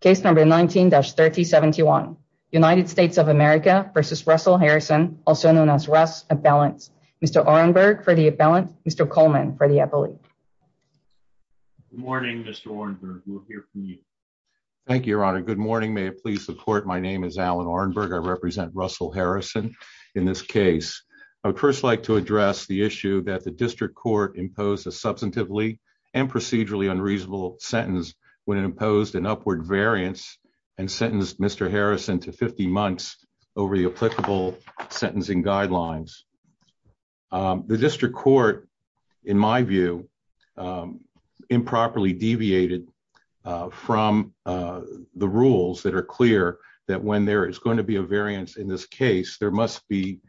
Case number 19-3071. United States of America versus Russell Harrison, also known as Russ Abellant. Mr. Orenberg for the Abellant, Mr. Coleman for the Abellant. Good morning, Mr. Orenberg. We'll hear from you. Thank you, Your Honor. Good morning. May it please support my name is Alan Orenberg. I represent Russell Harrison in this case. I would first like to address the issue that the district court imposed a substantively and procedurally unreasonable sentence when it imposed an upward variance and sentenced Mr. Harrison to 50 months over the applicable sentencing guidelines. The district court, in my view, improperly deviated from the rules that are clear that when there is going to be a variance in this case, there must be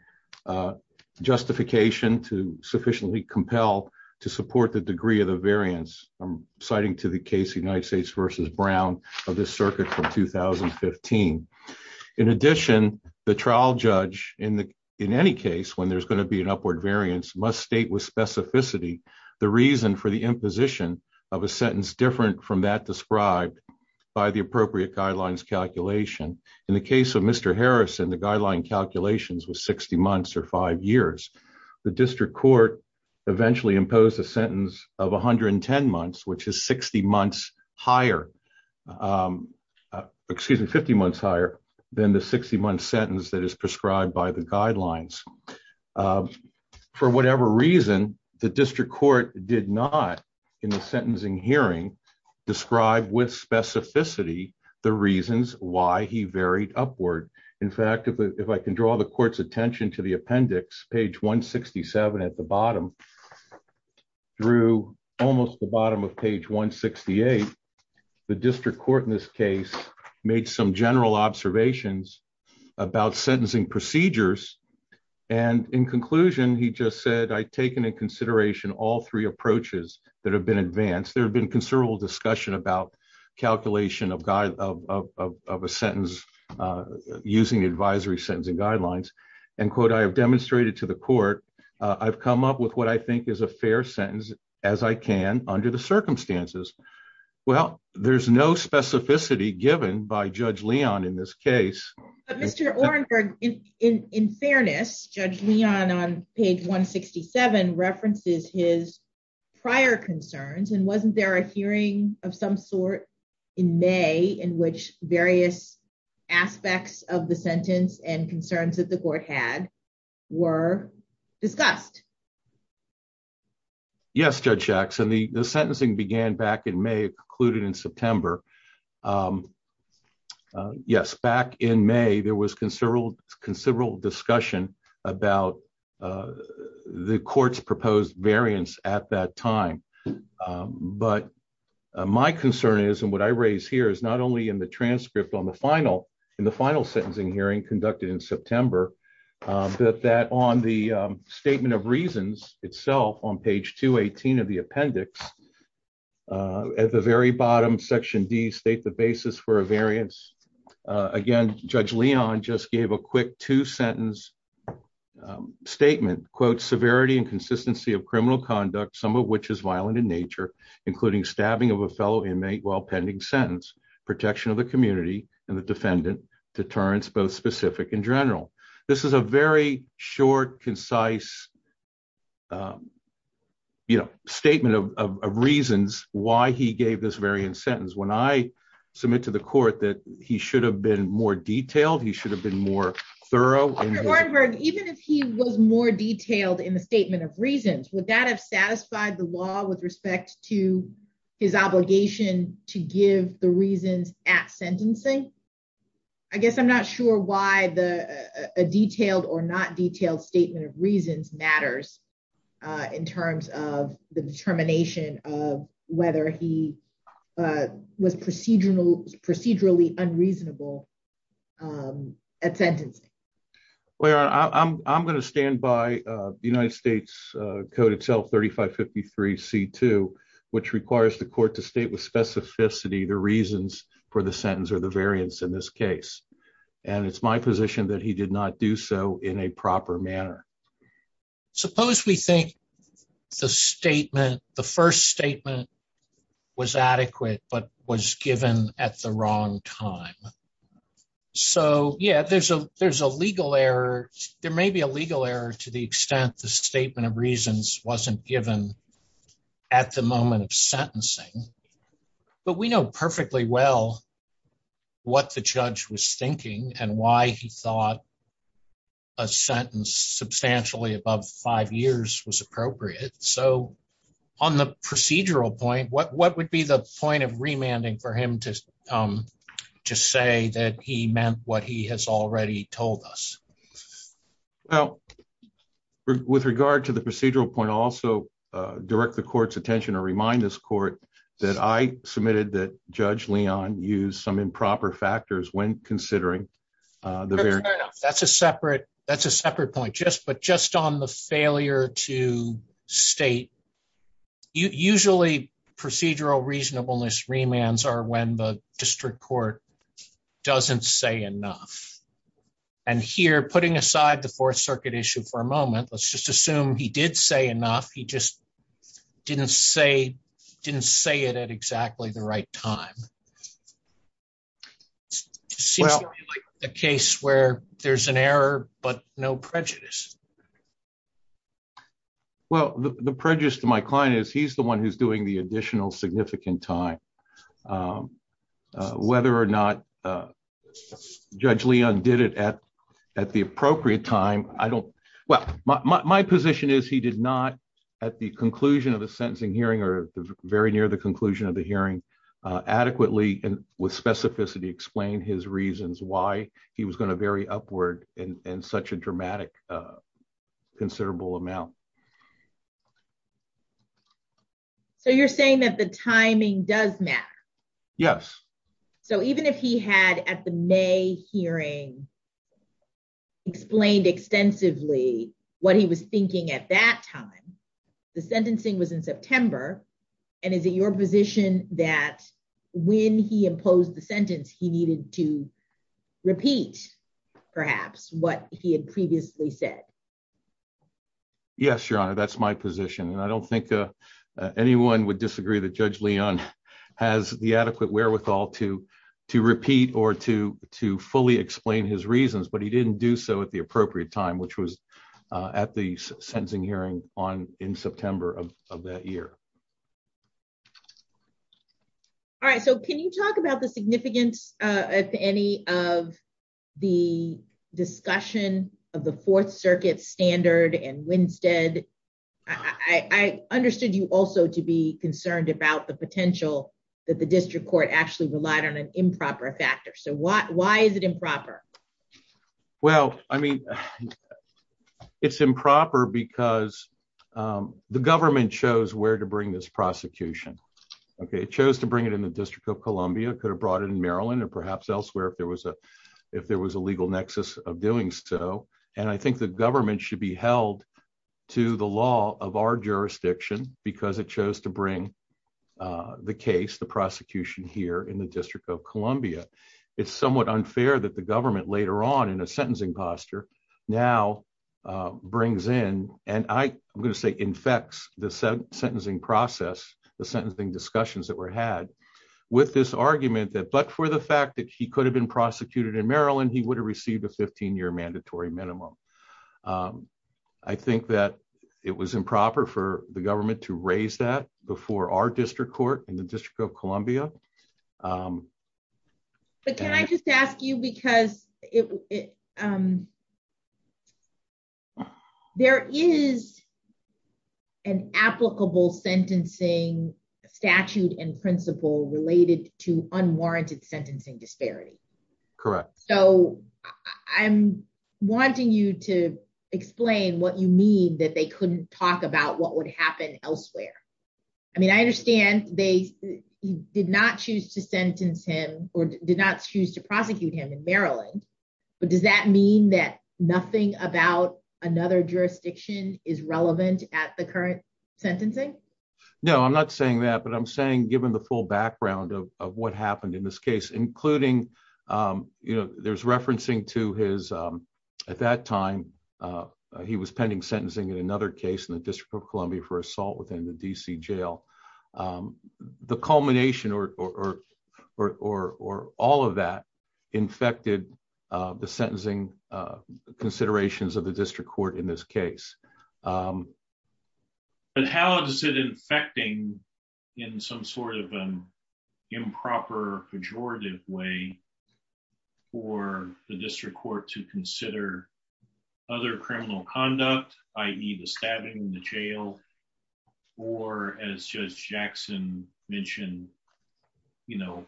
justification to sufficiently compel to support the degree of the variance. I'm citing to the case United States versus Brown of this circuit from 2015. In addition, the trial judge in any case when there's going to be an upward variance must state with specificity the reason for the imposition of a sentence different from that described by the appropriate guidelines calculation. In the case of Mr. Harrison, the guideline calculations was 60 months or five years. The district court eventually imposed a sentence of 110 months, which is 60 months higher, excuse me, 50 months higher than the 60 month sentence that is prescribed by the guidelines. For whatever reason, the district court did not in the sentencing hearing describe with specificity the reasons why he varied upward. In fact, if I can draw the court's attention to the appendix, page 167 at the bottom, through almost the bottom of page 168, the district court in this case made some general observations about sentencing procedures. In conclusion, he just said, I've taken into consideration all three approaches that have been advanced. There have been considerable discussion about calculation of a sentence using advisory sentencing guidelines. I have demonstrated to the court, I've come up with what I think is a fair sentence as I can under the circumstances. Well, there's no specificity given by Judge Leon in this case. But Mr. Orenberg, in fairness, Judge Leon on page 167 references his prior concerns and wasn't there a hearing of some sort in May in which various aspects of the sentence and concerns that the court had were discussed? Yes, Judge Jackson, the sentencing began back in May, concluded in September. Yes, back in May, there was considerable discussion about the court's proposed variance at that time. But my concern is and what I raise here is not only in the final sentencing hearing conducted in September, but that on the statement of reasons itself on page 218 of the appendix, at the very bottom, section D, state the basis for a variance. Again, Judge Leon just gave a quick two-sentence statement, quote, severity and consistency of criminal conduct, some of which is violent in nature, including stabbing of a fellow deterrence, both specific and general. This is a very short, concise statement of reasons why he gave this variance sentence. When I submit to the court that he should have been more detailed, he should have been more thorough. Mr. Orenberg, even if he was more detailed in the statement of reasons, would that have satisfied the law with respect to his obligation to give the reasons at sentencing? I guess I'm not sure why a detailed or not detailed statement of reasons matters in terms of the determination of whether he was procedurally unreasonable at sentencing. Well, Your Honor, I'm going to stand by the United States Code itself, 3553c2, which requires the court to state with specificity the reasons for the sentence or the variance in this case. And it's my position that he did not do so in a proper manner. Suppose we think the statement, the first statement was adequate, but was given at the wrong time. So, yeah, there's a legal error. There may be a legal error to the extent the statement of reasons wasn't given at the moment of sentencing. But we know perfectly well what the judge was thinking and why he thought a sentence substantially above five years was appropriate. So, on the procedural point, what would be the point of remanding for him to say that he meant what he has already told us? Well, with regard to the procedural point, I'll direct the court's attention or remind this court that I submitted that Judge Leon used some improper factors when considering the variance. Fair enough. That's a separate point. But just on the failure to state, usually procedural reasonableness remands are when the district court doesn't say enough. And here, putting aside the Fourth Circuit issue for a just didn't say it at exactly the right time. It seems like a case where there's an error, but no prejudice. Well, the prejudice to my client is he's the one who's doing the additional significant time. Whether or not Judge Leon did it at the appropriate time, I don't, well, my position is he did not at the conclusion of the sentencing hearing or very near the conclusion of the hearing adequately and with specificity explain his reasons why he was going to vary upward in such a dramatic considerable amount. So, you're saying that the timing does matter? Yes. So, even if he had at the May hearing explained extensively what he was thinking at that time, the sentencing was in September. And is it your position that when he imposed the sentence, he needed to repeat perhaps what he had previously said? Yes, Your Honor, that's my position. And I don't think anyone would disagree that Judge Leon has the adequate wherewithal to repeat or to explain his reasons, but he didn't do so at the appropriate time, which was at the sentencing hearing in September of that year. All right. So, can you talk about the significance of any of the discussion of the Fourth Circuit standard and Winstead? I understood you also to be concerned about the potential that the Well, I mean, it's improper because the government chose where to bring this prosecution. Okay. It chose to bring it in the District of Columbia, could have brought it in Maryland, or perhaps elsewhere if there was a legal nexus of doing so. And I think the government should be held to the law of our jurisdiction because it chose to bring the case, the prosecution here in the District of Columbia. It's somewhat unfair that the government later on in a sentencing posture now brings in, and I'm going to say infects the sentencing process, the sentencing discussions that were had with this argument that, but for the fact that he could have been prosecuted in Maryland, he would have received a 15-year mandatory minimum. I think that it was improper for the government to raise that before our district court in the District of Columbia. But can I just ask you, because there is an applicable sentencing statute and principle related to unwarranted sentencing disparity. Correct. So I'm wanting you to explain what you mean that they couldn't talk about what would happen elsewhere. I mean, I understand they did not choose to sentence him or did not choose to prosecute him in Maryland, but does that mean that nothing about another jurisdiction is relevant at the current sentencing? No, I'm not saying that, but I'm saying given the full background of what happened in this case, including, you know, there's referencing to his, at that time, he was pending sentencing in another case in the District of Columbia for assault within the DC jail. The culmination or all of that infected the sentencing considerations of the district court in this case. But how does it infecting in some sort of improper pejorative way for the district court to consider other criminal conduct, i.e. the stabbing in the jail or as Judge Jackson mentioned, you know,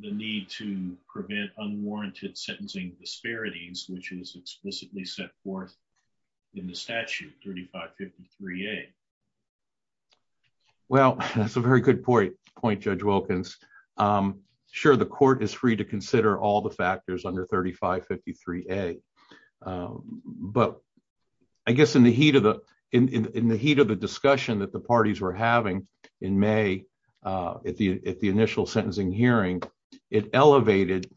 the need to prevent unwarranted sentencing disparities, which is explicitly set forth in the statute 3553A. Well, that's a very good point, Judge Wilkins. Sure, the court is free to consider all the things, but I guess in the heat of the discussion that the parties were having in May at the initial sentencing hearing, it elevated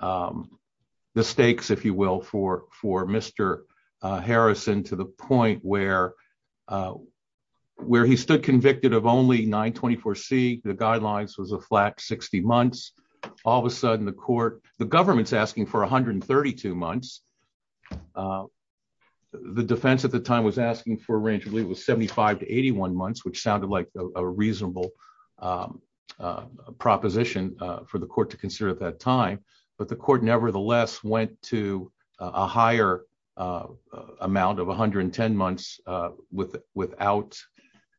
the stakes, if you will, for Mr. Harrison to the point where he stood convicted of only 924C, the guidelines was a flat 60 months. All of a sudden, the court, the government's asking for 132 months. The defense at the time was asking for range, I believe it was 75 to 81 months, which sounded like a reasonable proposition for the court to consider at that time, but the court nevertheless went to a higher amount of 110 months without,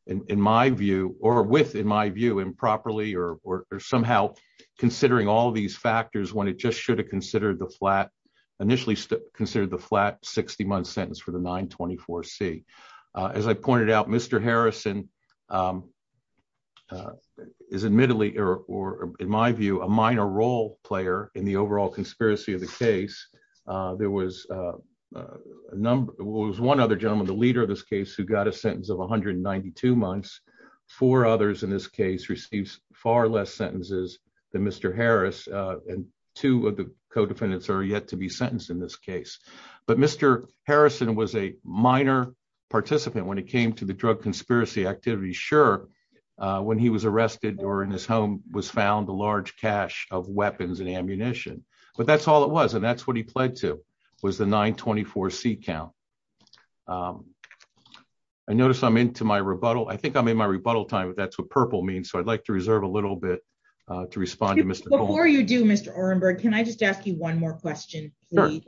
in my view, or with in my view improperly or somehow considering all these factors when it just should have initially considered the flat 60 month sentence for the 924C. As I pointed out, Mr. Harrison is admittedly, or in my view, a minor role player in the overall conspiracy of the case. There was one other gentleman, the leader of this case, who got a sentence of 192 months. Four others in this case received far less sentences than Mr. Harris, and two of the co-defendants are yet to be sentenced in this case, but Mr. Harrison was a minor participant when it came to the drug conspiracy activity. Sure, when he was arrested or in his home was found, a large cache of weapons and ammunition, but that's all it was, and that's what he pled to was the 924C count. I notice I'm into my rebuttal. I think I'm in my rebuttal time, but that's what purple means, so I'd like to reserve a little bit to respond to Mr. Before you do, Mr. Orenberg, can I just ask you one more question, please?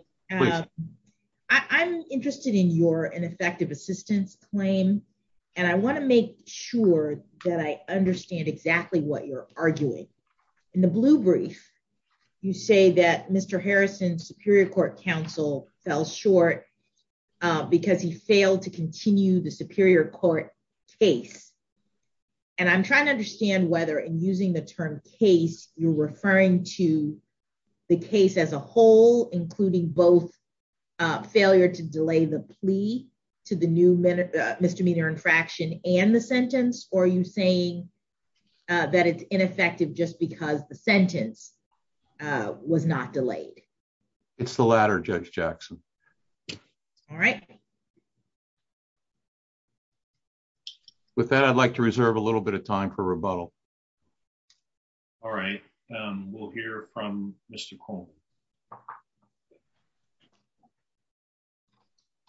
I'm interested in your ineffective assistance claim, and I want to make sure that I understand exactly what you're arguing. In the blue brief, you say that Mr. Harrison's Superior Court counsel fell short because he failed to continue the Superior Court case, and I'm trying to understand whether, in using the term case, you're referring to the case as a whole, including both failure to delay the plea to the new misdemeanor infraction and the sentence, or are you saying that it's ineffective just because the sentence was not delayed? It's the latter, Judge Jackson. All right. With that, I'd like to reserve a little bit of time for rebuttal. All right. We'll hear from Mr. Coleman.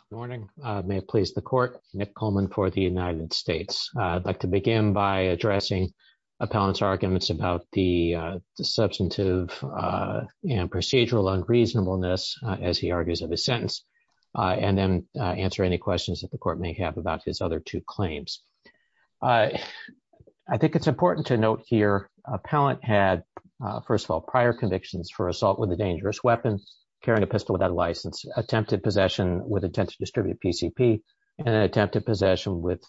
Good morning. May it please the court, Nick Coleman for the United States. I'd like to begin by addressing Appellant's arguments about the substantive and procedural unreasonableness, as he argues of his sentence, and then answer any questions that the court may have about his other two claims. I think it's important to note here Appellant had, first of all, prior convictions for assault with a dangerous weapon, carrying a pistol without a license, attempted possession with intent to distribute PCP, and attempted possession with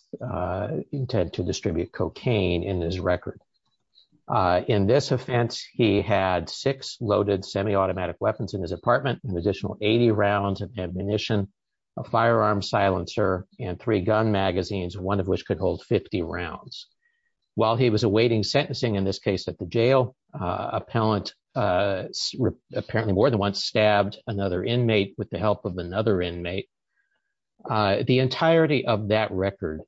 intent to distribute cocaine in his record. In this offense, he had six loaded semi-automatic weapons in his apartment, an additional 80 rounds of ammunition, a firearm silencer, and three gun magazines, one of which could hold 50 rounds. While he was awaiting sentencing, in this case at the jail, Appellant apparently more than once stabbed another inmate with the help of another inmate. The entirety of that record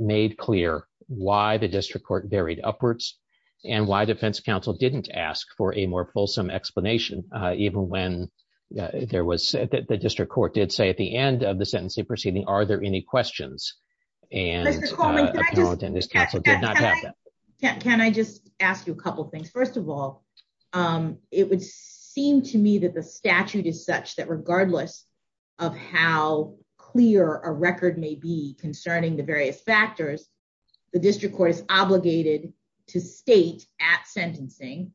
made clear why the district court varied upwards, and why defense counsel didn't ask for a more fulsome explanation, even when there was, the district court did say at the end of the sentencing proceeding, are there any questions, and Appellant and his counsel did not have that. Can I just ask you a couple things? First of all, it would seem to me that the statute is such that regardless of how clear a record may be concerning the various factors, the district court is obligated to state at sentencing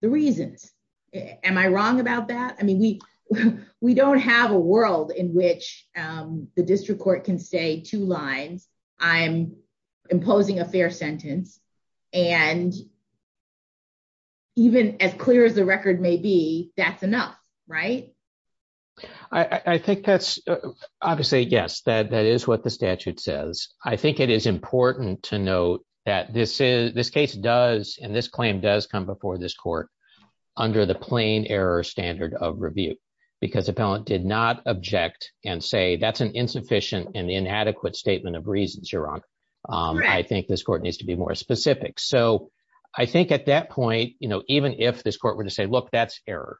the reasons. Am I wrong about that? I mean, we don't have a world in which the district court can say two lines, I'm imposing a fair sentence, and even as clear as the record may be, that's enough, right? I think that's, obviously, yes, that is what the statute says. I think it is important to note that this case does, and this claim does come before this court, under the plain error standard of review, because Appellant did not object and say that's an insufficient and inadequate statement of reasons, you're wrong. I think this court needs to be more specific. So I think at that point, you know, even if this court were to say, look, that's error,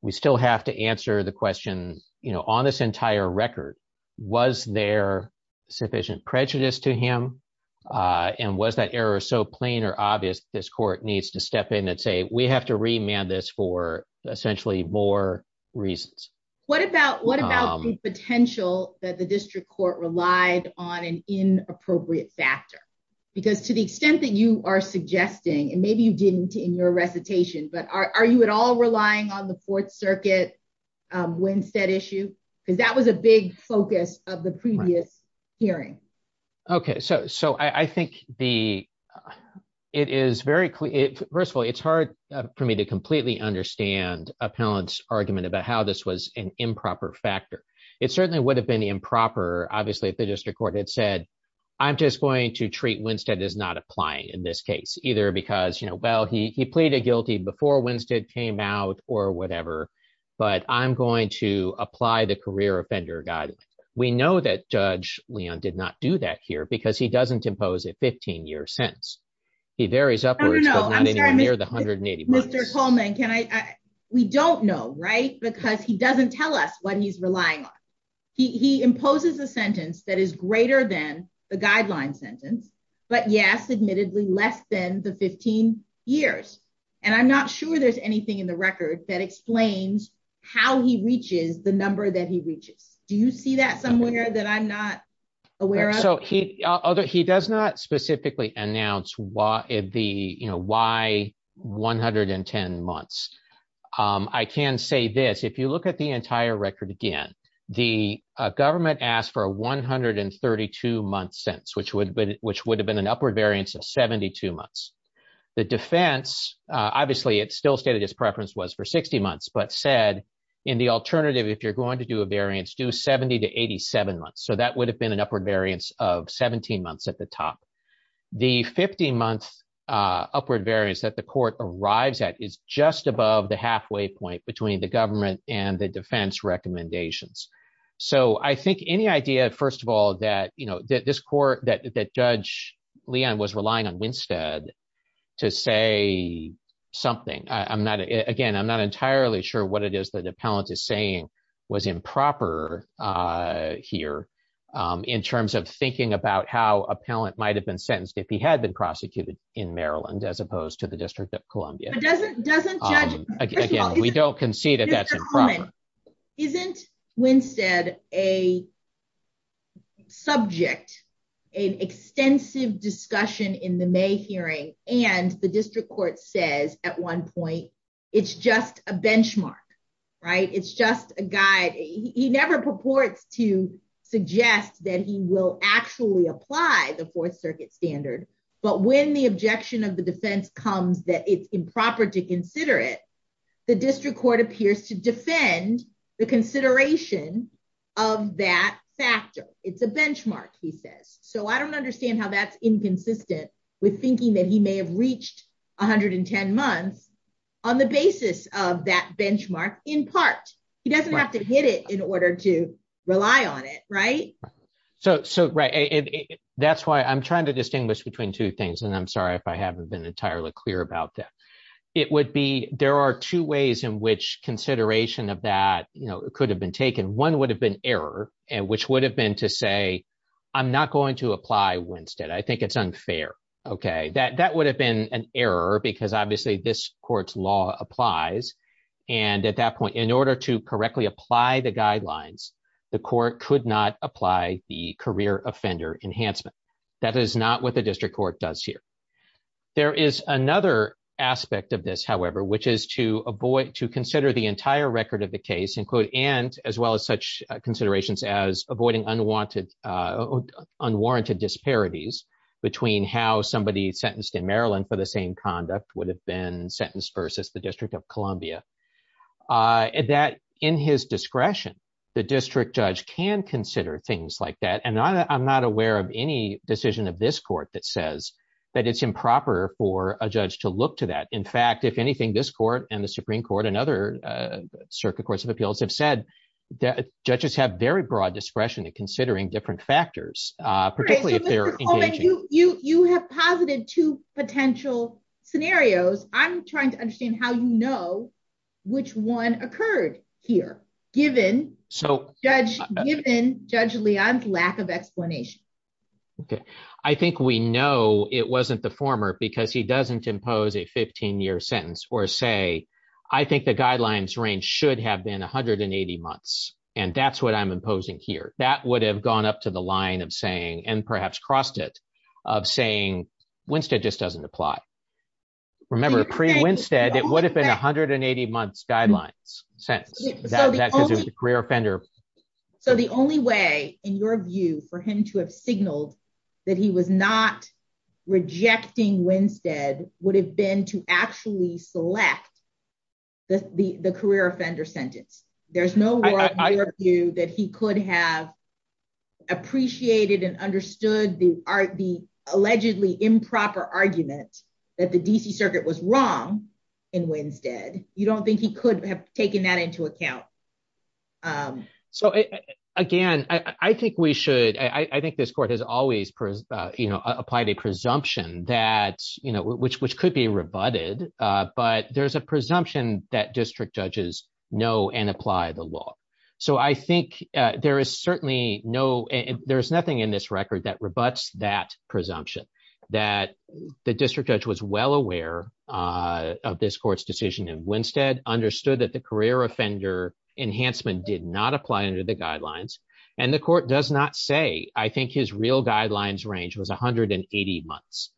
we still have to answer the question, you know, on this entire record, was there sufficient prejudice to him, and was that error so plain or obvious this court needs to step in and say, we have to remand this for essentially more reasons. What about the potential that the district court relied on an inappropriate factor? Because to the extent that you are suggesting, and maybe you didn't in your recitation, but are you at all relying on the Fourth Circuit Winstead issue? Because that was a big focus of the previous hearing. Okay, so I think the, it is very clear, first of all, it's hard for me to completely understand Appellant's argument about how this was an improper factor. It certainly would have been improper, obviously, if the district court had said, I'm just going to treat Winstead as not applying in this case, either because, you know, well, he pleaded guilty before Winstead came out or whatever, but I'm going to apply the career offender guidance. We know that Judge Leon did not do that here, because he doesn't impose a 15 year sentence. He varies upwards, but not anywhere the 180. Mr. Coleman, can I, we don't know, right? Because he doesn't tell us what he's relying on. He imposes a sentence that is greater than the guideline sentence. But yes, admittedly less than the 15 years. And I'm not sure there's anything in the record that explains how he reaches the number that he reaches. Do you see that somewhere that I'm not aware of? So he does not specifically announce why 110 months. I can say this, if you look at the entire record, again, the government asked for a 132 month sentence, which would have been an upward variance of 72 months. The defense, obviously, it still stated his preference was for 60 months, but said, in the alternative, if you're going to do a variance, do 70 to 87 months. So that would have been an upward variance of 17 months at the top. The 15 month upward variance that the court arrives at is just above the halfway point between the government and the defense recommendations. So I think any idea, first of all, that, you know, that this court, that Judge Leon was relying on Winstead to say something, I'm not, again, I'm not entirely sure what it is that appellant is saying was improper here, in terms of thinking about how appellant might have been sentenced, if he had been prosecuted in Maryland, as opposed to the District of Columbia. But doesn't judge, first of all, isn't Winstead a subject, an extensive discussion in the May It's just a guy, he never purports to suggest that he will actually apply the Fourth Circuit standard. But when the objection of the defense comes that it's improper to consider it, the district court appears to defend the consideration of that factor. It's a benchmark, he says. So I don't understand how that's inconsistent with thinking that he may have in part, he doesn't have to hit it in order to rely on it. Right. So, so, right. That's why I'm trying to distinguish between two things. And I'm sorry, if I haven't been entirely clear about that. It would be there are two ways in which consideration of that, you know, could have been taken one would have been error, and which would have been to say, I'm not going to apply Winstead, I think it's unfair. Okay, that that would have been an error, because obviously, this court's law applies. And at that point, in order to correctly apply the guidelines, the court could not apply the career offender enhancement. That is not what the district court does here. There is another aspect of this, however, which is to avoid to consider the entire record of the case include and as well as such considerations as avoiding unwanted unwarranted disparities between how somebody sentenced in Maryland for the same conduct would have been sentenced versus the District of Columbia, that in his discretion, the district judge can consider things like that. And I'm not aware of any decision of this court that says that it's improper for a judge to look to that. In fact, if anything, this court and the Supreme Court and other circuit courts of appeals have said that judges have very broad discretion in factors. You have posited two potential scenarios. I'm trying to understand how you know, which one occurred here, given so judge, given Judge Leon's lack of explanation. Okay, I think we know it wasn't the former because he doesn't impose a 15 year sentence or say, I think the guidelines range should have been 180 months. And that's what I'm imposing here, that would have gone up to the line of saying, and perhaps crossed it of saying, Winstead just doesn't apply. Remember, pre Winstead, it would have been 180 months guidelines since that career offender. So the only way in your view for him to have signaled that he was not rejecting Winstead would have been to actually select the career offender sentence. There's no view that he could have appreciated and understood the art, the allegedly improper argument that the DC circuit was wrong. In Winstead, you don't think he could have taken that into account. So, again, I think we should I think this court has always, you know, applied a presumption that, you know, which which could be rebutted. But there's a presumption that district judges know and apply the law. So I think there is certainly no, there's nothing in this record that rebuts that presumption, that the district judge was well aware of this court's decision and Winstead understood that the career offender enhancement did not apply under the guidelines. And the court does not say I think his real guidelines range was 180 months.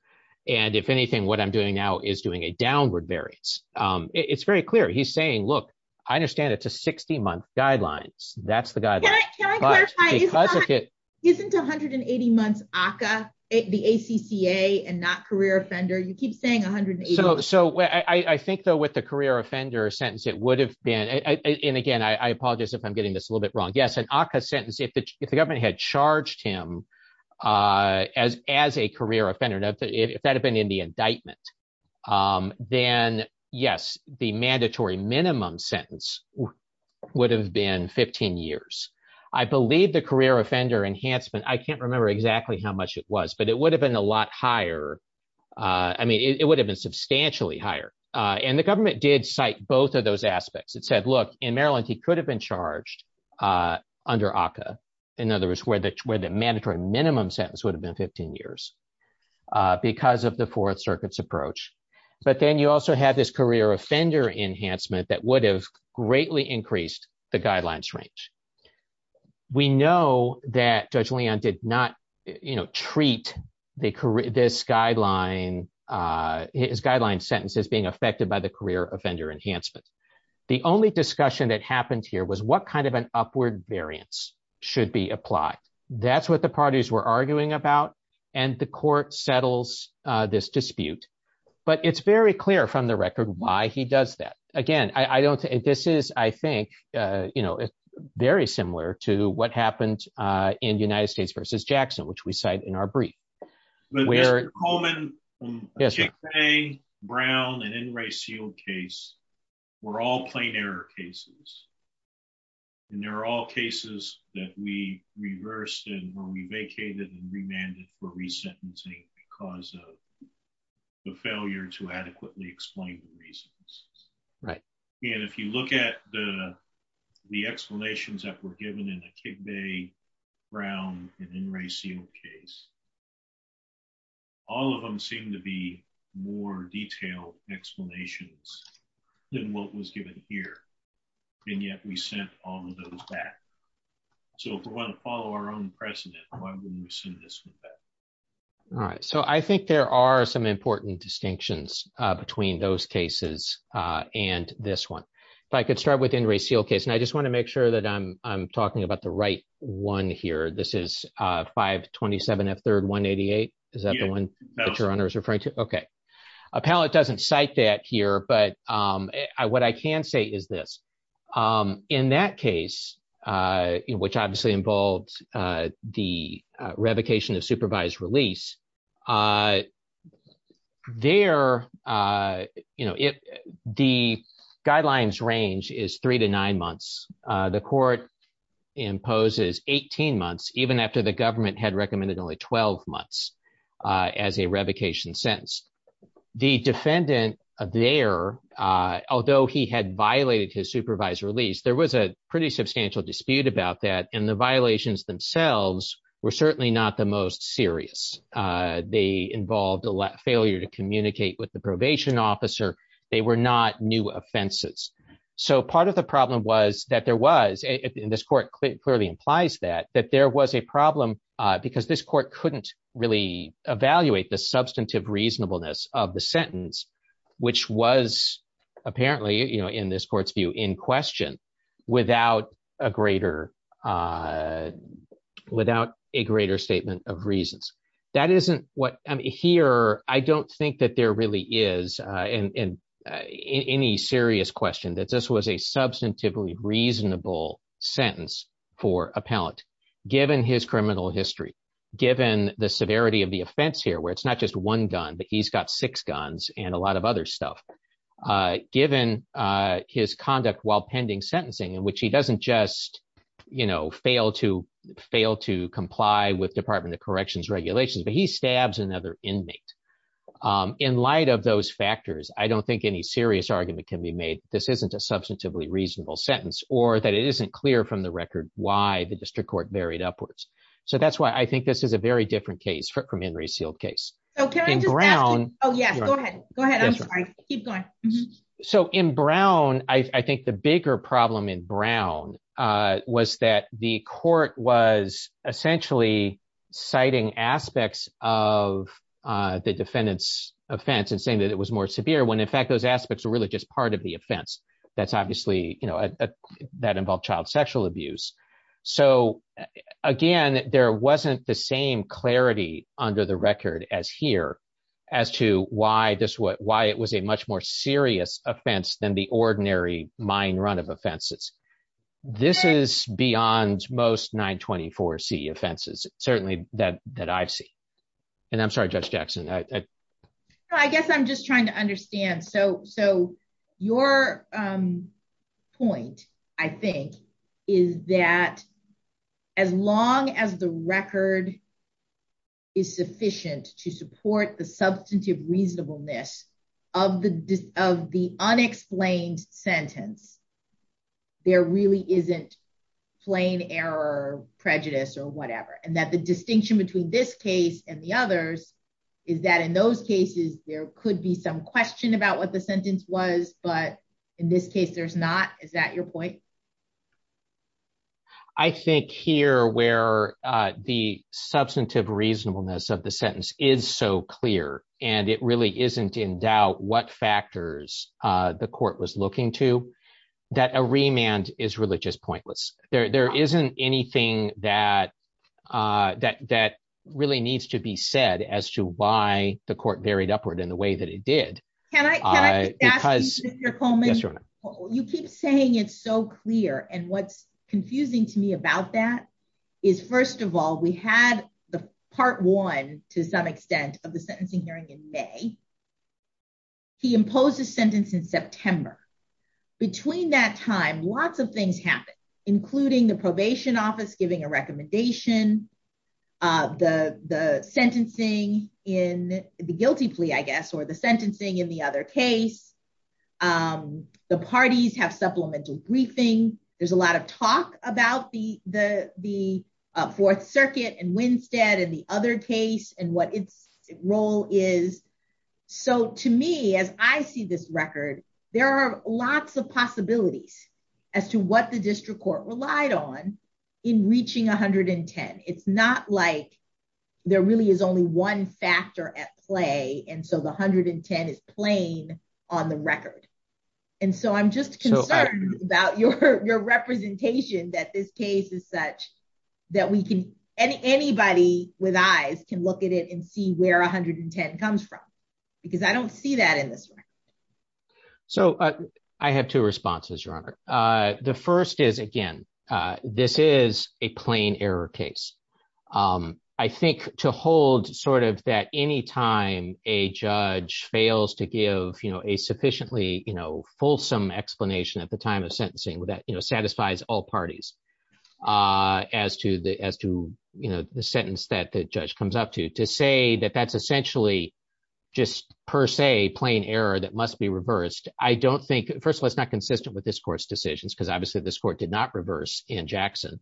And if anything, what I'm doing now is doing a downward variance. It's very clear. He's saying, look, I understand it's a 60 month guidelines. That's the guy. Isn't 180 months ACCA, the ACCA and not career offender, you keep saying 180. So I think, though, with the career offender sentence, it would have been and again, I apologize if I'm getting this a little bit wrong. Yes, an ACCA sentence if the government had charged him as as a career offender, if that had been in the indictment, then yes, the mandatory minimum sentence would have been 15 years. I believe the career offender enhancement, I can't remember exactly how much it was, but it would have been a lot higher. I mean, it would have been substantially higher. And the government did cite both of those aspects. It said, in Maryland, he could have been charged under ACCA. In other words, where the mandatory minimum sentence would have been 15 years because of the Fourth Circuit's approach. But then you also have this career offender enhancement that would have greatly increased the guidelines range. We know that Judge Leon did not treat this guideline, his guideline sentence as being affected by the career offender enhancement. The only discussion that happened here was what kind of an upward variance should be applied. That's what the parties were arguing about. And the court settles this dispute. But it's very clear from the record why he does that. Again, I don't think this is I think, you know, very similar to what happened in United States versus Jackson, which we cite in our brief. But Mr. Coleman, Akigbe, Brown, and N. Ray Seale case, were all plain error cases. And they're all cases that we reversed and when we vacated and remanded for resentencing because of the failure to adequately explain the reasons. Right. And if look at the explanations that were given in Akigbe, Brown, and N. Ray Seale case, all of them seem to be more detailed explanations than what was given here. And yet we sent all of those back. So if we want to follow our own precedent, why wouldn't we send this one back? All right. So I think there are some important distinctions between those cases and this one. If I could start with N. Ray Seale case, and I just want to make sure that I'm talking about the right one here. This is 527F3188. Is that the one that your honor is referring to? Okay. Appellate doesn't cite that here. But what I can say is this. In that case, which obviously involves the revocation of supervised release, there, you know, if the guidelines range is three to nine months, the court imposes 18 months, even after the government had recommended only 12 months as a revocation sentence. The defendant there, although he had violated his supervised release, there was a pretty substantial dispute about that. And the violations themselves were certainly not the most serious. They involved a failure to communicate with the probation officer. They were not new offenses. So part of the problem was that there was, and this court clearly implies that, that there was a problem because this court couldn't really evaluate the substantive reasonableness of the sentence, which was apparently, you know, in this court's view, in question without a greater, without a greater statement of reasons. That isn't what, I mean, here, I don't think that there really is any serious question that this was a substantively reasonable sentence for appellant, given his criminal history, given the severity of the offense here, where it's not just one gun, but he's got six guns and a lot of other stuff. Given his conduct while pending sentencing, in which he doesn't just, you know, fail to comply with Department of Corrections regulations, but he stabs another inmate. In light of those factors, I don't think any serious argument can be made that this isn't a substantively reasonable sentence or that it isn't clear from the record why the district court varied upwards. So that's why I think this is a very different case from Henry's sealed case. Okay. Brown. Oh, yeah. Go ahead. Go ahead. Keep going. So in Brown, I think the bigger problem in Brown was that the court was essentially citing aspects of the defendant's offense and saying that it was more severe when in fact, those aspects are really just part of the offense. That's obviously, you know, that involved child sexual abuse. So, again, there wasn't the same clarity under the record as here, as to why this what why it was a much more serious offense than the ordinary mine run of offenses. This is beyond most 924 C offenses, certainly that that I've seen. And I'm sorry, Judge Jackson, I guess I'm just trying to As long as the record is sufficient to support the substantive reasonableness of the of the unexplained sentence, there really isn't plain error, prejudice or whatever. And that the distinction between this case and the others is that in those cases, there could be some question about what the sentence was. But in this case, there's not. Is that your point? I think here where the substantive reasonableness of the sentence is so clear, and it really isn't in doubt what factors the court was looking to that a remand is religious pointless. There isn't anything that that that really needs to be said as to why the court varied upward in the way that it Can I ask you, Mr. Coleman? You keep saying it's so clear. And what's confusing to me about that is, first of all, we had the part one, to some extent of the sentencing hearing in May. He imposed a sentence in September. Between that time, lots of things happen, including the probation office giving a recommendation, the the sentencing in the other case. The parties have supplemental briefing, there's a lot of talk about the Fourth Circuit and Winstead and the other case and what its role is. So to me, as I see this record, there are lots of possibilities as to what the district court relied on in reaching 110. It's not like there really is only one factor at play. And so the 110 is plain on the record. And so I'm just concerned about your your representation that this case is such that we can any anybody with eyes can look at it and see where 110 comes from, because I don't see that in this. So I have two responses, Your Honor. The first is again, this is a plain error case. I think to hold sort of that any time a judge fails to give, you know, a sufficiently, you know, fulsome explanation at the time of sentencing that, you know, satisfies all parties as to the as to, you know, the sentence that the judge comes up to to say that that's essentially just per se plain error that must be reversed. I don't think first of all, it's not consistent with this court's decisions, because obviously, this court did not reverse in Jackson.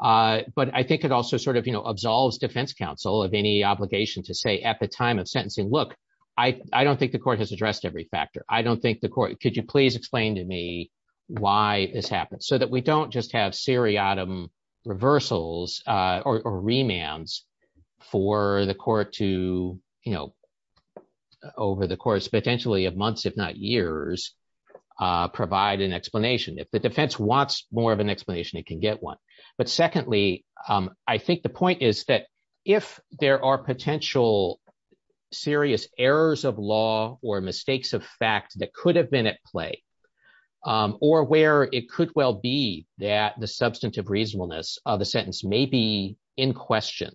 But I think it also sort of, you know, absolves defense counsel of any obligation to say at the time of sentencing, look, I don't think the court has addressed every factor. I don't think the court could you please explain to me why this happened so that we don't just have seriatim reversals, or remands for the court to, you know, over the course, potentially of months, if not years, provide an explanation. If the defense wants more of an explanation, it can get one. But secondly, I think the point is that if there are potential serious errors of law or mistakes of fact that could have been at play, or where it could well be that the substantive reasonableness of the sentence may be in question,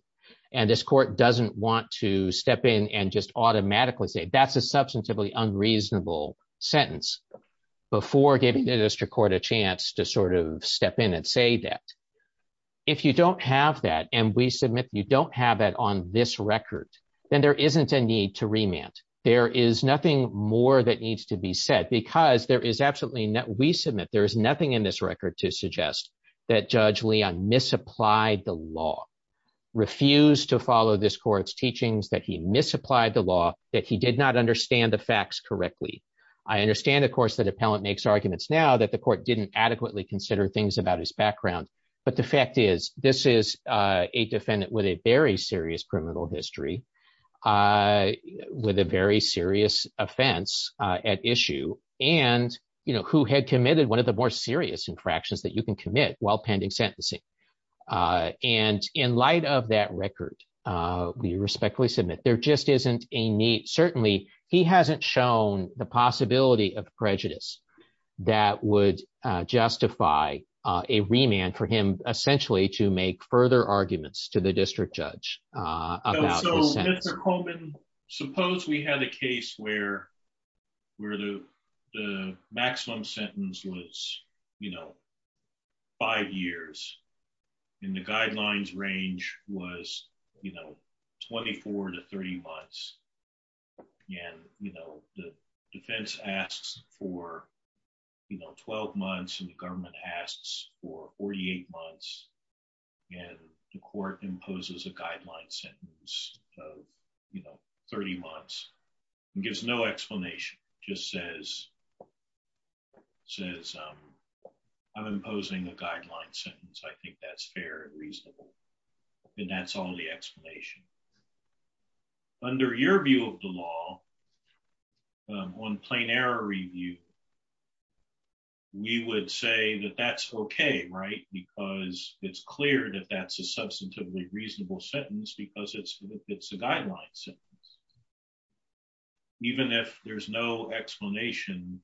and this court doesn't want to step in and just automatically say that's a substantively unreasonable sentence before giving the district court a chance to sort of step in and say that if you don't have that, and we submit you don't have that on this record, then there isn't a need to remand. There is nothing more that needs to be said because there is absolutely no we submit there is nothing in this record to suggest that Judge Leon misapplied the law, refused to follow this court's teachings that he misapplied the law, that he did not understand the facts correctly. I understand, of course, that appellant makes arguments now that the court didn't adequately consider things about his background. But the fact is, this is a defendant with a very serious criminal history, with a very serious offense at issue, and who had committed one of the more serious infractions that you can commit while pending sentencing. And in light of that record, we respectfully submit there just isn't a need. Certainly, he hasn't shown the possibility of prejudice that would justify a remand for him essentially to make further arguments to the court. Suppose we had a case where the maximum sentence was, you know, five years, and the guidelines range was, you know, 24 to 30 months. And, you know, the defense asks for, you know, 12 months and the government asks for 48 months. And the court imposes a guideline sentence of, you know, 30 months, and gives no explanation, just says, says, I'm imposing a guideline sentence. I think that's fair and reasonable. And that's all the explanation. Under your view of the law, on plain error review, we would say that that's okay, right? Because it's clear that that's a substantively reasonable sentence, because it's, it's a guideline sentence. Even if there's no explanation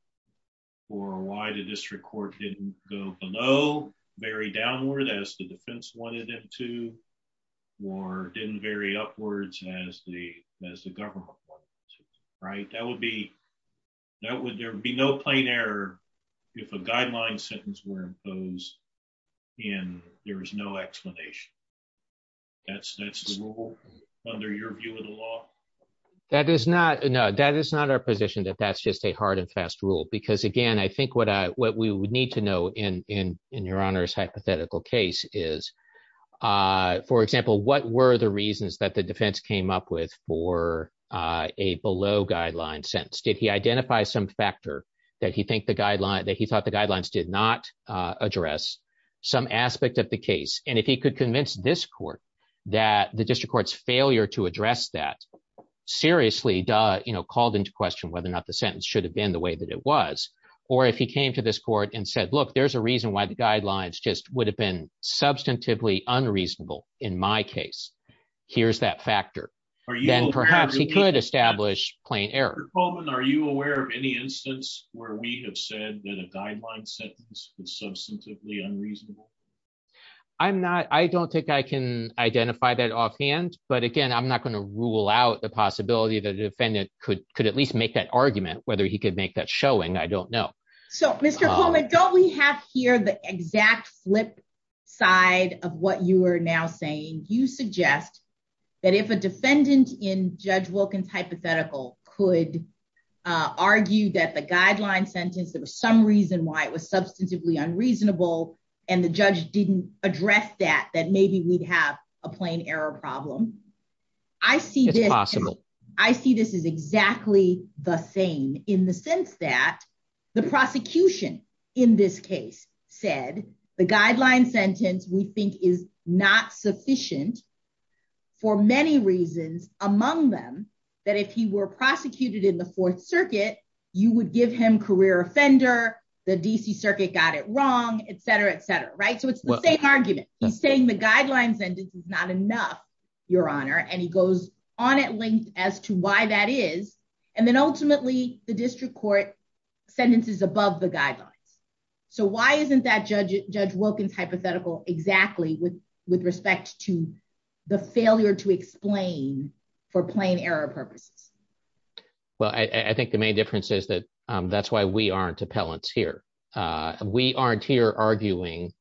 for why the district court didn't go below, very downward as the defense wanted them to, or didn't vary upwards as the as the government, right, that would be that would there be no plain error, if a guideline sentence were imposed, and there was no explanation. That's, that's the rule, under your view of the law. That is not, no, that is not our position that that's just a hard and fast rule. Because again, I think what I what we would need to know in in in your honor's hypothetical case is, for example, what were the reasons that the defense came up with for a below guideline sentence? Did he identify some factor that he think the guideline that he thought the guidelines did not address some aspect of the case? And if he could convince this court, that the district court's failure to address that, seriously, you know, called into question whether or not the sentence should have been the way that it was. Or if he came to this court and said, look, there's a reason why the guidelines just would have been substantively unreasonable. In my case, here's that factor, then perhaps he could establish plain error. Coleman, are you aware of any instance where we have said that a guideline sentence is substantively unreasonable? I'm not, I don't think I can identify that offhand. But again, I'm not going to rule out the possibility that a defendant could could at least make that argument whether he could make that showing I don't know. So Mr. Coleman, don't we have here the exact flip side of what you are now saying you suggest that if a defendant in Judge Wilkins hypothetical could argue that the guideline sentence, there was some reason why it was substantively unreasonable. And the judge didn't address that, that maybe we'd have a plain error problem. I see this possible. I see this is exactly the same in the sense that the prosecution in this case said the guideline sentence we think is not sufficient. For many reasons, among them, that if he were prosecuted in the Fourth Circuit, you would give him career offender, the DC Circuit got it wrong, etc, etc. Right. So it's the same argument. He's saying the guidelines and it's not enough, Your Honor, and he goes on at length as to why that is. And then ultimately, the district court sentences above the guidelines. So why isn't that Judge Judge Wilkins hypothetical exactly with with respect to the failure to explain for plain error purposes? Well, I think the main difference is that that's why we aren't appellants here. We aren't here arguing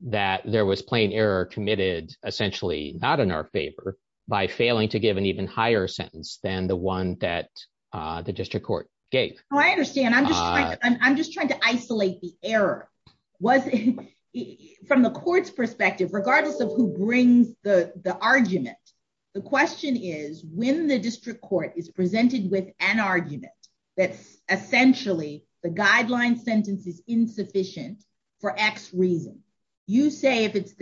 that there was plain error committed, essentially not in our favor, by failing to give an even higher sentence than the one that the district court gave. I understand. I'm just trying to isolate the error was from the court's perspective, regardless of who brings the argument. The question is when the district court is presented with an argument, that's essentially the guideline sentence is saying it's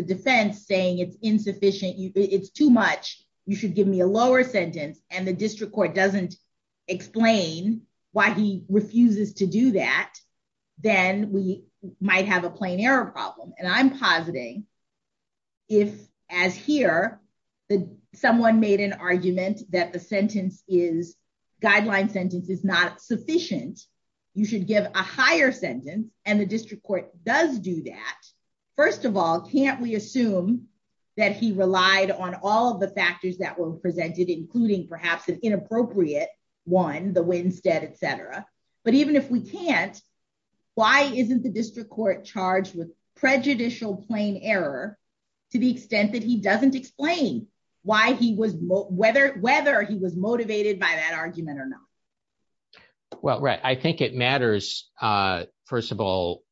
insufficient, it's too much, you should give me a lower sentence and the district court doesn't explain why he refuses to do that, then we might have a plain error problem. And I'm positing if as here, the someone made an argument that the sentence is guideline sentence is not sufficient, you should give a higher sentence and the district court does do that. First of all, can't we assume that he relied on all the factors that were presented, including perhaps an inappropriate one, the Winstead, etc. But even if we can't, why isn't the district court charged with prejudicial plain error, to the extent that he doesn't explain why he was whether whether he was motivated by that argument or not? Well, right, I think it matters. First of all,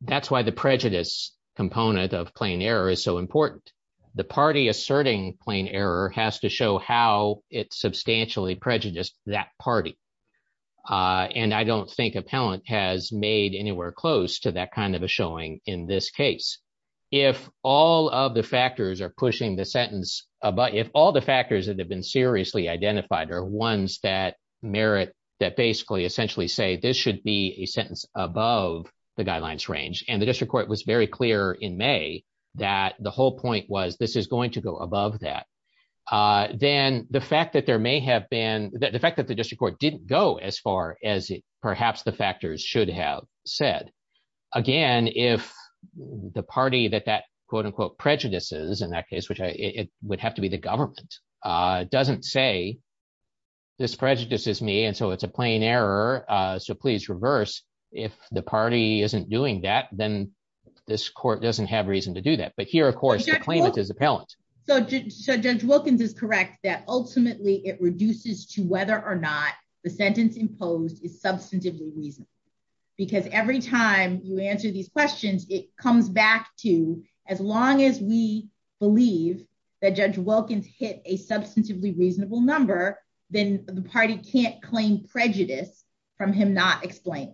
that's why the prejudice component of plain error is so important. The party asserting plain error has to show how it's substantially prejudiced that party. And I don't think appellant has made anywhere close to that kind of a showing in this case. If all of the factors are pushing the sentence, but if all the factors that have been seriously identified are ones that merit that essentially say this should be a sentence above the guidelines range, and the district court was very clear in May, that the whole point was this is going to go above that, then the fact that there may have been the fact that the district court didn't go as far as perhaps the factors should have said, again, if the party that that quote unquote prejudices in that case, which it would have to be the government doesn't say this prejudices me. And so it's a plain error. So please reverse if the party isn't doing that, then this court doesn't have reason to do that. But here, of course, the claimant is appellant. So Judge Wilkins is correct that ultimately, it reduces to whether or not the sentence imposed is substantively reasonable. Because every time you answer these questions, it comes back to as long as we believe that Judge Wilkins hit a substantively reasonable number, then the party can't claim prejudice from him not explained.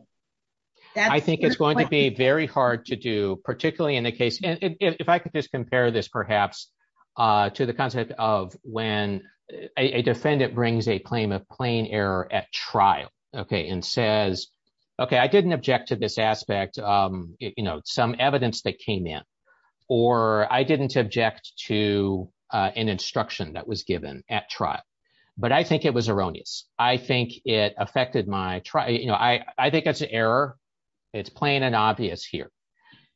I think it's going to be very hard to do, particularly in the case, if I could just compare this perhaps, to the concept of when a defendant brings a claim of plain error at trial, okay, and says, Okay, I didn't object to this aspect, you know, some evidence that came in, or I didn't object to an instruction that was given at trial. But I think it was erroneous. I think it affected my try, you know, I think it's an error. It's plain and obvious here.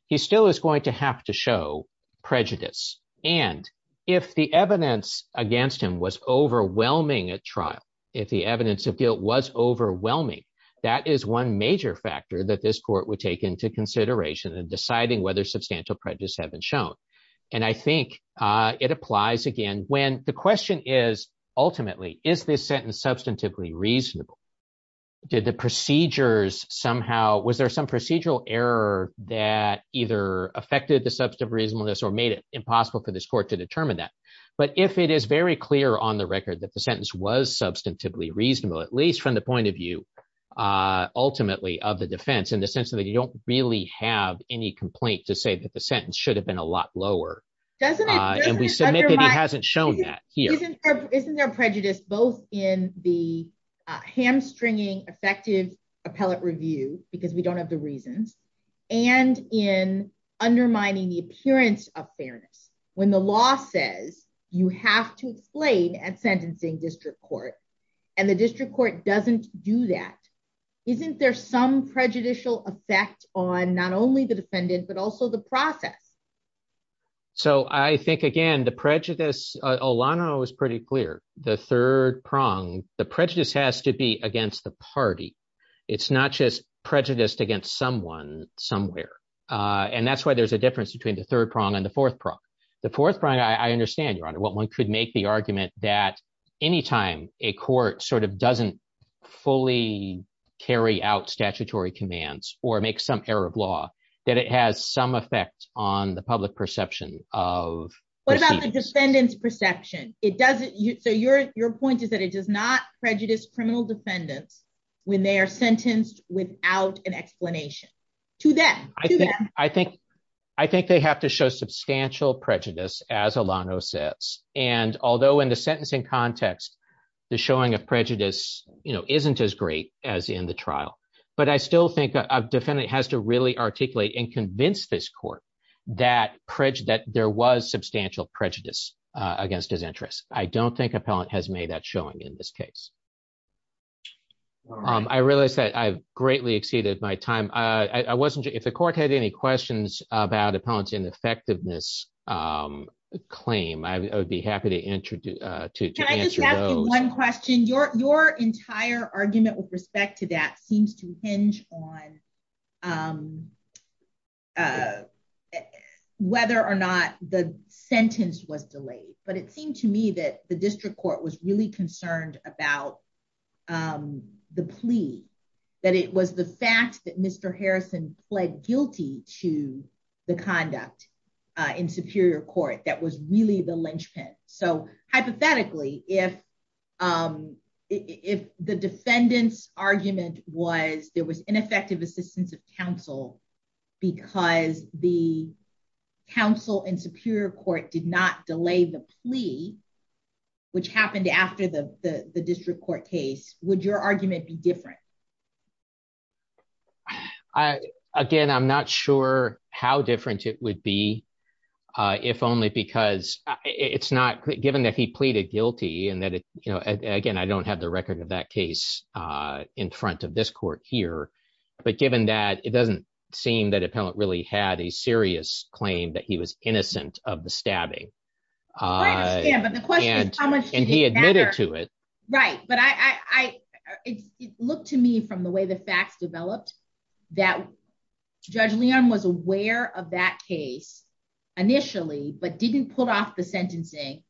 He still is going to have to show prejudice. And if the evidence against him was overwhelming at that is one major factor that this court would take into consideration and deciding whether substantial prejudice have been shown. And I think it applies again, when the question is, ultimately, is this sentence substantively reasonable? Did the procedures somehow was there some procedural error that either affected the substantive reasonableness or made it impossible for this court to determine that. But if it is very clear on the record that the sentence was ultimately of the defense in the sense that you don't really have any complaint to say that the sentence should have been a lot lower. And we said it hasn't shown that isn't there prejudice both in the hamstringing effective appellate review, because we don't have the reasons and in undermining the appearance of fairness, when the law says you have to explain sentencing district court, and the district court doesn't do that. Isn't there some prejudicial effect on not only the defendant, but also the process? So I think, again, the prejudice, Alana was pretty clear, the third prong, the prejudice has to be against the party. It's not just prejudiced against someone somewhere. And that's why there's a difference between the third prong and the fourth prong. The fourth prong I understand, Your Honor, what one could make the argument that anytime a court sort of doesn't fully carry out statutory commands, or make some error of law, that it has some effect on the public perception of what about the defendants perception? It doesn't you so your your point is that it does not prejudice criminal defendants when they are sentenced without an explanation to them. I think, I think they have to show substantial prejudice, as Alana says, and although in the sentencing context, the showing of prejudice, you know, isn't as great as in the trial, but I still think a defendant has to really articulate and convince this court that prejudice that there was substantial prejudice against his interests. I don't think appellate has made that showing in this case. I realized that I've greatly exceeded my time. I wasn't if the court had any questions about appellate ineffectiveness claim, I would be happy to introduce one question your your entire argument with respect to that seems to hinge on whether or not the sentence was delayed, but it seemed to me that the district court was really guilty to the conduct in Superior Court that was really the linchpin. So hypothetically, if the defendants argument was there was ineffective assistance of counsel, because the counsel in Superior Court did not delay the plea, which happened after the district court case, would your argument be different? I, again, I'm not sure how different it would be. If only because it's not given that he pleaded guilty. And that, you know, again, I don't have the record of that case in front of this court here. But given that it doesn't seem that appellate really had a serious claim that he was innocent of the stabbing. Yeah, but the question is how much and he admitted to it. Right. But I look to me from the way the facts developed, that Judge Leon was aware of that case, initially, but didn't put off the sentencing.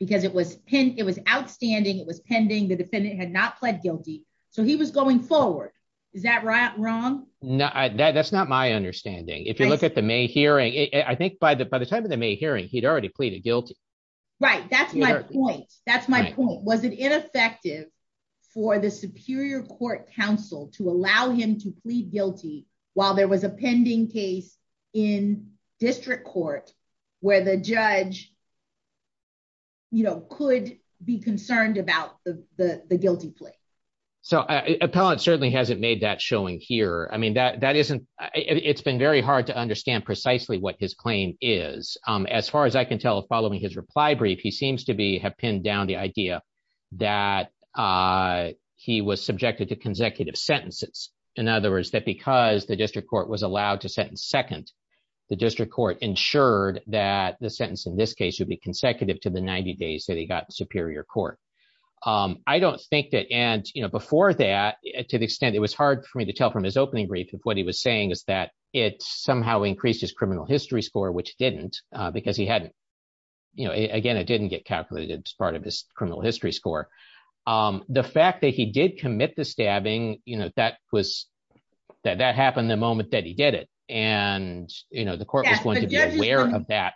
Because it was pin it was outstanding, it was pending, the defendant had not pled guilty. So he was going forward. Is that right? Wrong? No, that's not my understanding. If you look at the May hearing, I think by the by the time of May hearing, he'd already pleaded guilty. Right? That's my point. That's my point. Was it ineffective for the Superior Court counsel to allow him to plead guilty? While there was a pending case in district court, where the judge, you know, could be concerned about the guilty plea. So appellate certainly hasn't made that showing here. I mean, that that isn't, it's been very hard to understand precisely what his claim is. As far as I can tell, following his reply brief, he seems to be have pinned down the idea that he was subjected to consecutive sentences. In other words, that because the district court was allowed to sentence second, the district court ensured that the sentence in this case would be consecutive to the 90 days that he got Superior Court. I don't think that and you know, before that, to the extent it was hard for me to tell his opening brief of what he was saying is that it somehow increased his criminal history score, which didn't, because he hadn't, you know, again, it didn't get calculated as part of his criminal history score. The fact that he did commit the stabbing, you know, that was that that happened the moment that he did it. And, you know, the court was aware of that.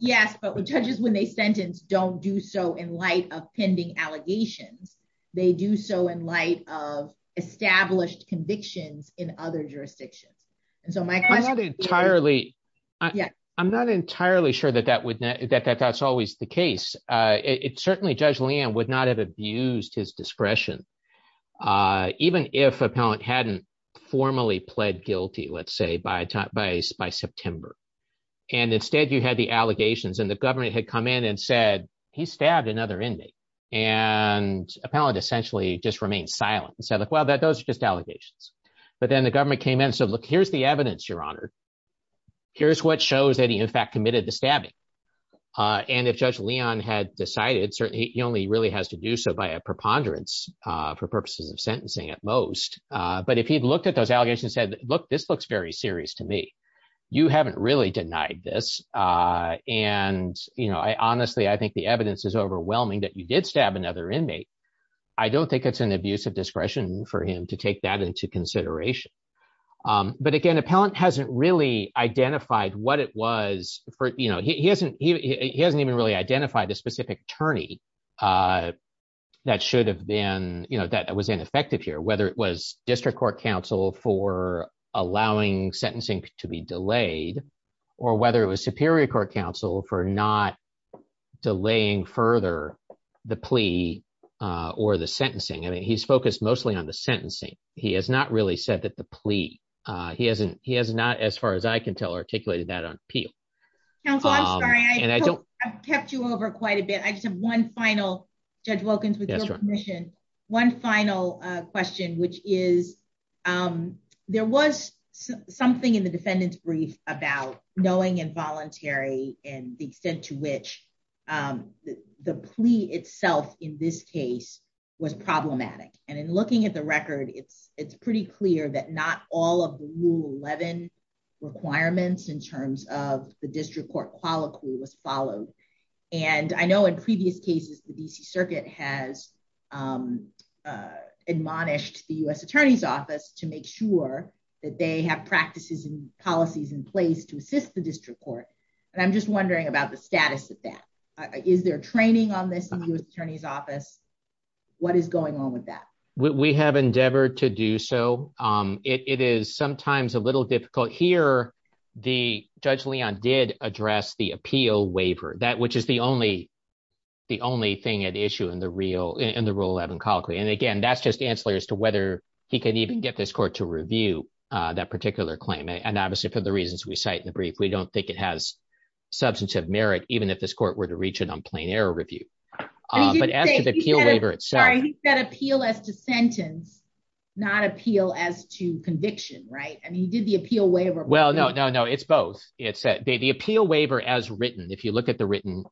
Yes, but judges when they sentence don't do so in light of pending allegations. They do so in light of established convictions in other jurisdictions. And so my question entirely, yeah, I'm not entirely sure that that would that that's always the case. It certainly Judge Leanne would not have abused his discretion. Even if appellant hadn't formally pled guilty, let's say by time by by September. And instead, you had the allegations and the government had come in and said, he stabbed another inmate, and appellant essentially just remained silent. So like, well, that those are just allegations. But then the government came in. So look, here's the evidence, Your Honor. Here's what shows that he in fact committed the stabbing. And if Judge Leon had decided, certainly he only really has to do so by a preponderance for purposes of sentencing at most. But if he'd looked at those allegations said, Look, this looks very serious to me. You haven't really denied this. And, you know, I honestly, I think the evidence is overwhelming that you did stab another inmate. I don't think it's an abuse of discretion for him to take that into consideration. But again, appellant hasn't really identified what it was for, you know, he hasn't, he hasn't even really identified a specific attorney. That should have been, you know, that was ineffective here, whether it was district court counsel for allowing sentencing to be delayed, or whether it was Superior Court counsel for not delaying further, the plea, or the sentencing. And he's focused mostly on the sentencing. He has not really said that the plea, he hasn't he has not as far as I can tell, articulated that on appeal. Counsel, I'm sorry, I kept you over quite a bit. I just have one final, Judge Wilkins, one final question, which is, there was something in the defendant's brief about knowing involuntary and the extent to which the plea itself in this case was problematic. And in looking at the record, it's, it's pretty clear that not all of the rule 11 requirements in terms of the district court quality was followed. And I know in previous cases, the DC Circuit has admonished the US Attorney's Office to make sure that they have practices and policies in place to assist the district court. And I'm just wondering about the status of that. Is there training on this new attorney's office? What is going on with that? We have endeavored to do so. It is sometimes a little difficult here. The Judge Leon did address the appeal waiver that which is the only, the only thing at issue in the real in the rule 11 colloquy. And again, that's just ancillary as to whether he can even get this court to review that particular claim. And obviously, for the reasons we cite in the brief, we don't think it has substantive merit, even if this court were to reach an unplanned error review. But after the appeal waiver itself, that appeal as to sentence, not appeal as to conviction, right? I mean, he did the appeal waiver. Well, no, no, no, it's both. It said the appeal waiver as written, if you look at the written,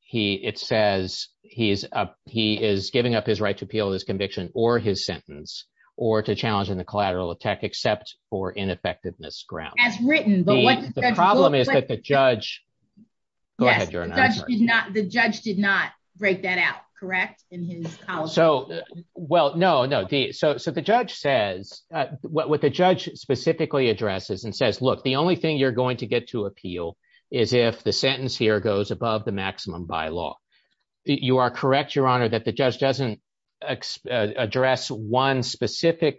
he it says, he's up, he is giving up his right to appeal his conviction or his sentence, or to challenge in the collateral attack except for ineffectiveness ground as written. But the problem is that the judge did not the judge did not break that out. Correct. And so, well, no, no. So the judge says, what the judge specifically addresses and says, Look, the only thing you're going to get to appeal is if the sentence here goes above the maximum bylaw. You are correct, Your Honor, that the judge doesn't address one specific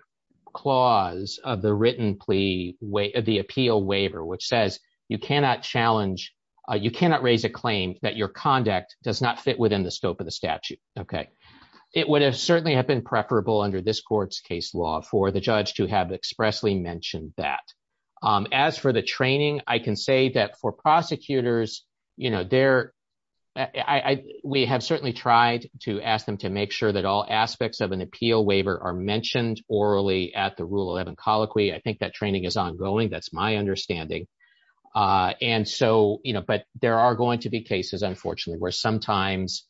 clause of the written plea way of the appeal waiver, which says, you cannot challenge, you cannot raise a claim that your conduct does not fit within the scope of the statute. Okay. It would have certainly have been preferable under this court's case law for the judge to have expressly mentioned that. As for the training, I can say that for prosecutors, you know, there, I, we have certainly tried to ask them to make sure that all aspects of an appeal waiver are mentioned orally at the rule 11 colloquy. I think that training is ongoing. That's my understanding. And so, you know, but there are going to be cases, unfortunately, where sometimes,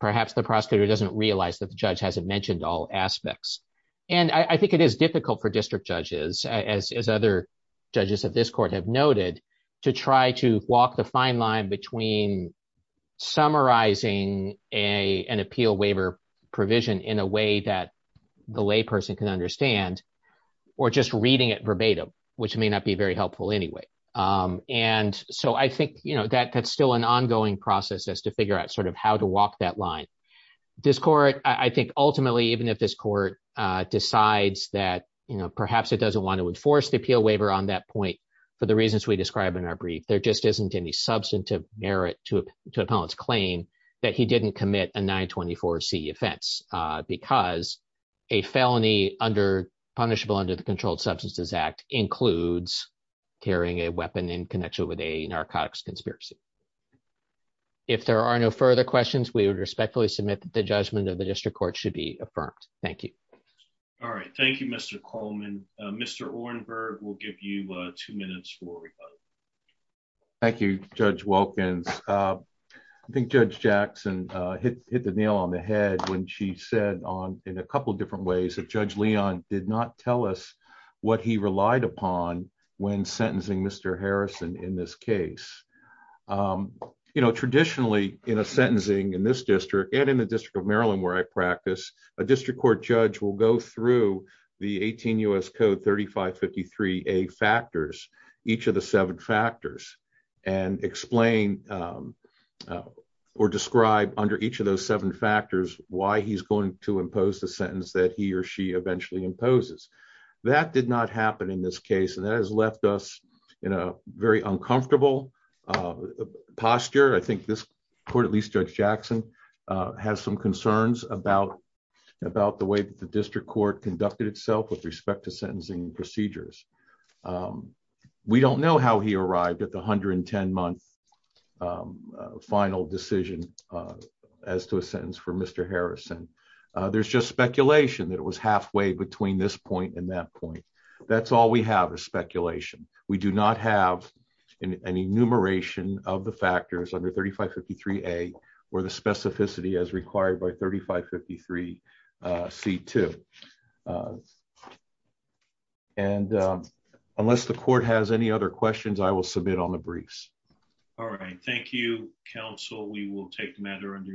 perhaps the prosecutor doesn't realize that the judge hasn't mentioned all aspects. And I think it is difficult for district judges, as other judges at this court have noted, to try to walk the fine line between summarizing a an appeal waiver provision in a way that the lay person can understand, or just reading it verbatim, which may not be very helpful anyway. And so I think, you know, that that's still an ongoing process as to figure out sort of how to walk that line. This court, I think, ultimately, even if this court decides that, you know, perhaps it doesn't want to enforce the appeal waiver on that point, for the reasons we described in our brief, there just isn't any substantive merit to to appellant's claim that he didn't commit a 924 C offense, because a felony under punishable under the Controlled Substances Act includes carrying a weapon in connection with a narcotics conspiracy. If there are no further questions, we would respectfully submit that the judgment of the district court should be affirmed. Thank you. All right. Thank you, Mr. Coleman. Mr. Orenberg, we'll give you two minutes for questions. Thank you, Judge Wilkins. I think Judge Jackson hit the nail on the head when she said on in a couple of different ways that Judge Leon did not tell us what he relied upon when sentencing Mr. Harrison in this case. You know, traditionally, in a sentencing in this district, and in the District of Maryland, where I practice, a district court judge will go through the 18 U.S. Code 3553 factors, each of the seven factors, and explain or describe under each of those seven factors why he's going to impose the sentence that he or she eventually imposes. That did not happen in this case, and that has left us in a very uncomfortable posture. I think this court, at least Judge Jackson, has some concerns about the way that the district court conducted itself with respect to sentencing procedures. We don't know how he arrived at the 110-month final decision as to a sentence for Mr. Harrison. There's just speculation that it was halfway between this point and that point. That's all we have is speculation. We do not have an enumeration of the factors under 3553A or the specificity as required by 3553C2. Unless the court has any other questions, I will submit on the briefs. All right. Thank you, counsel. We will take the matter under advisement.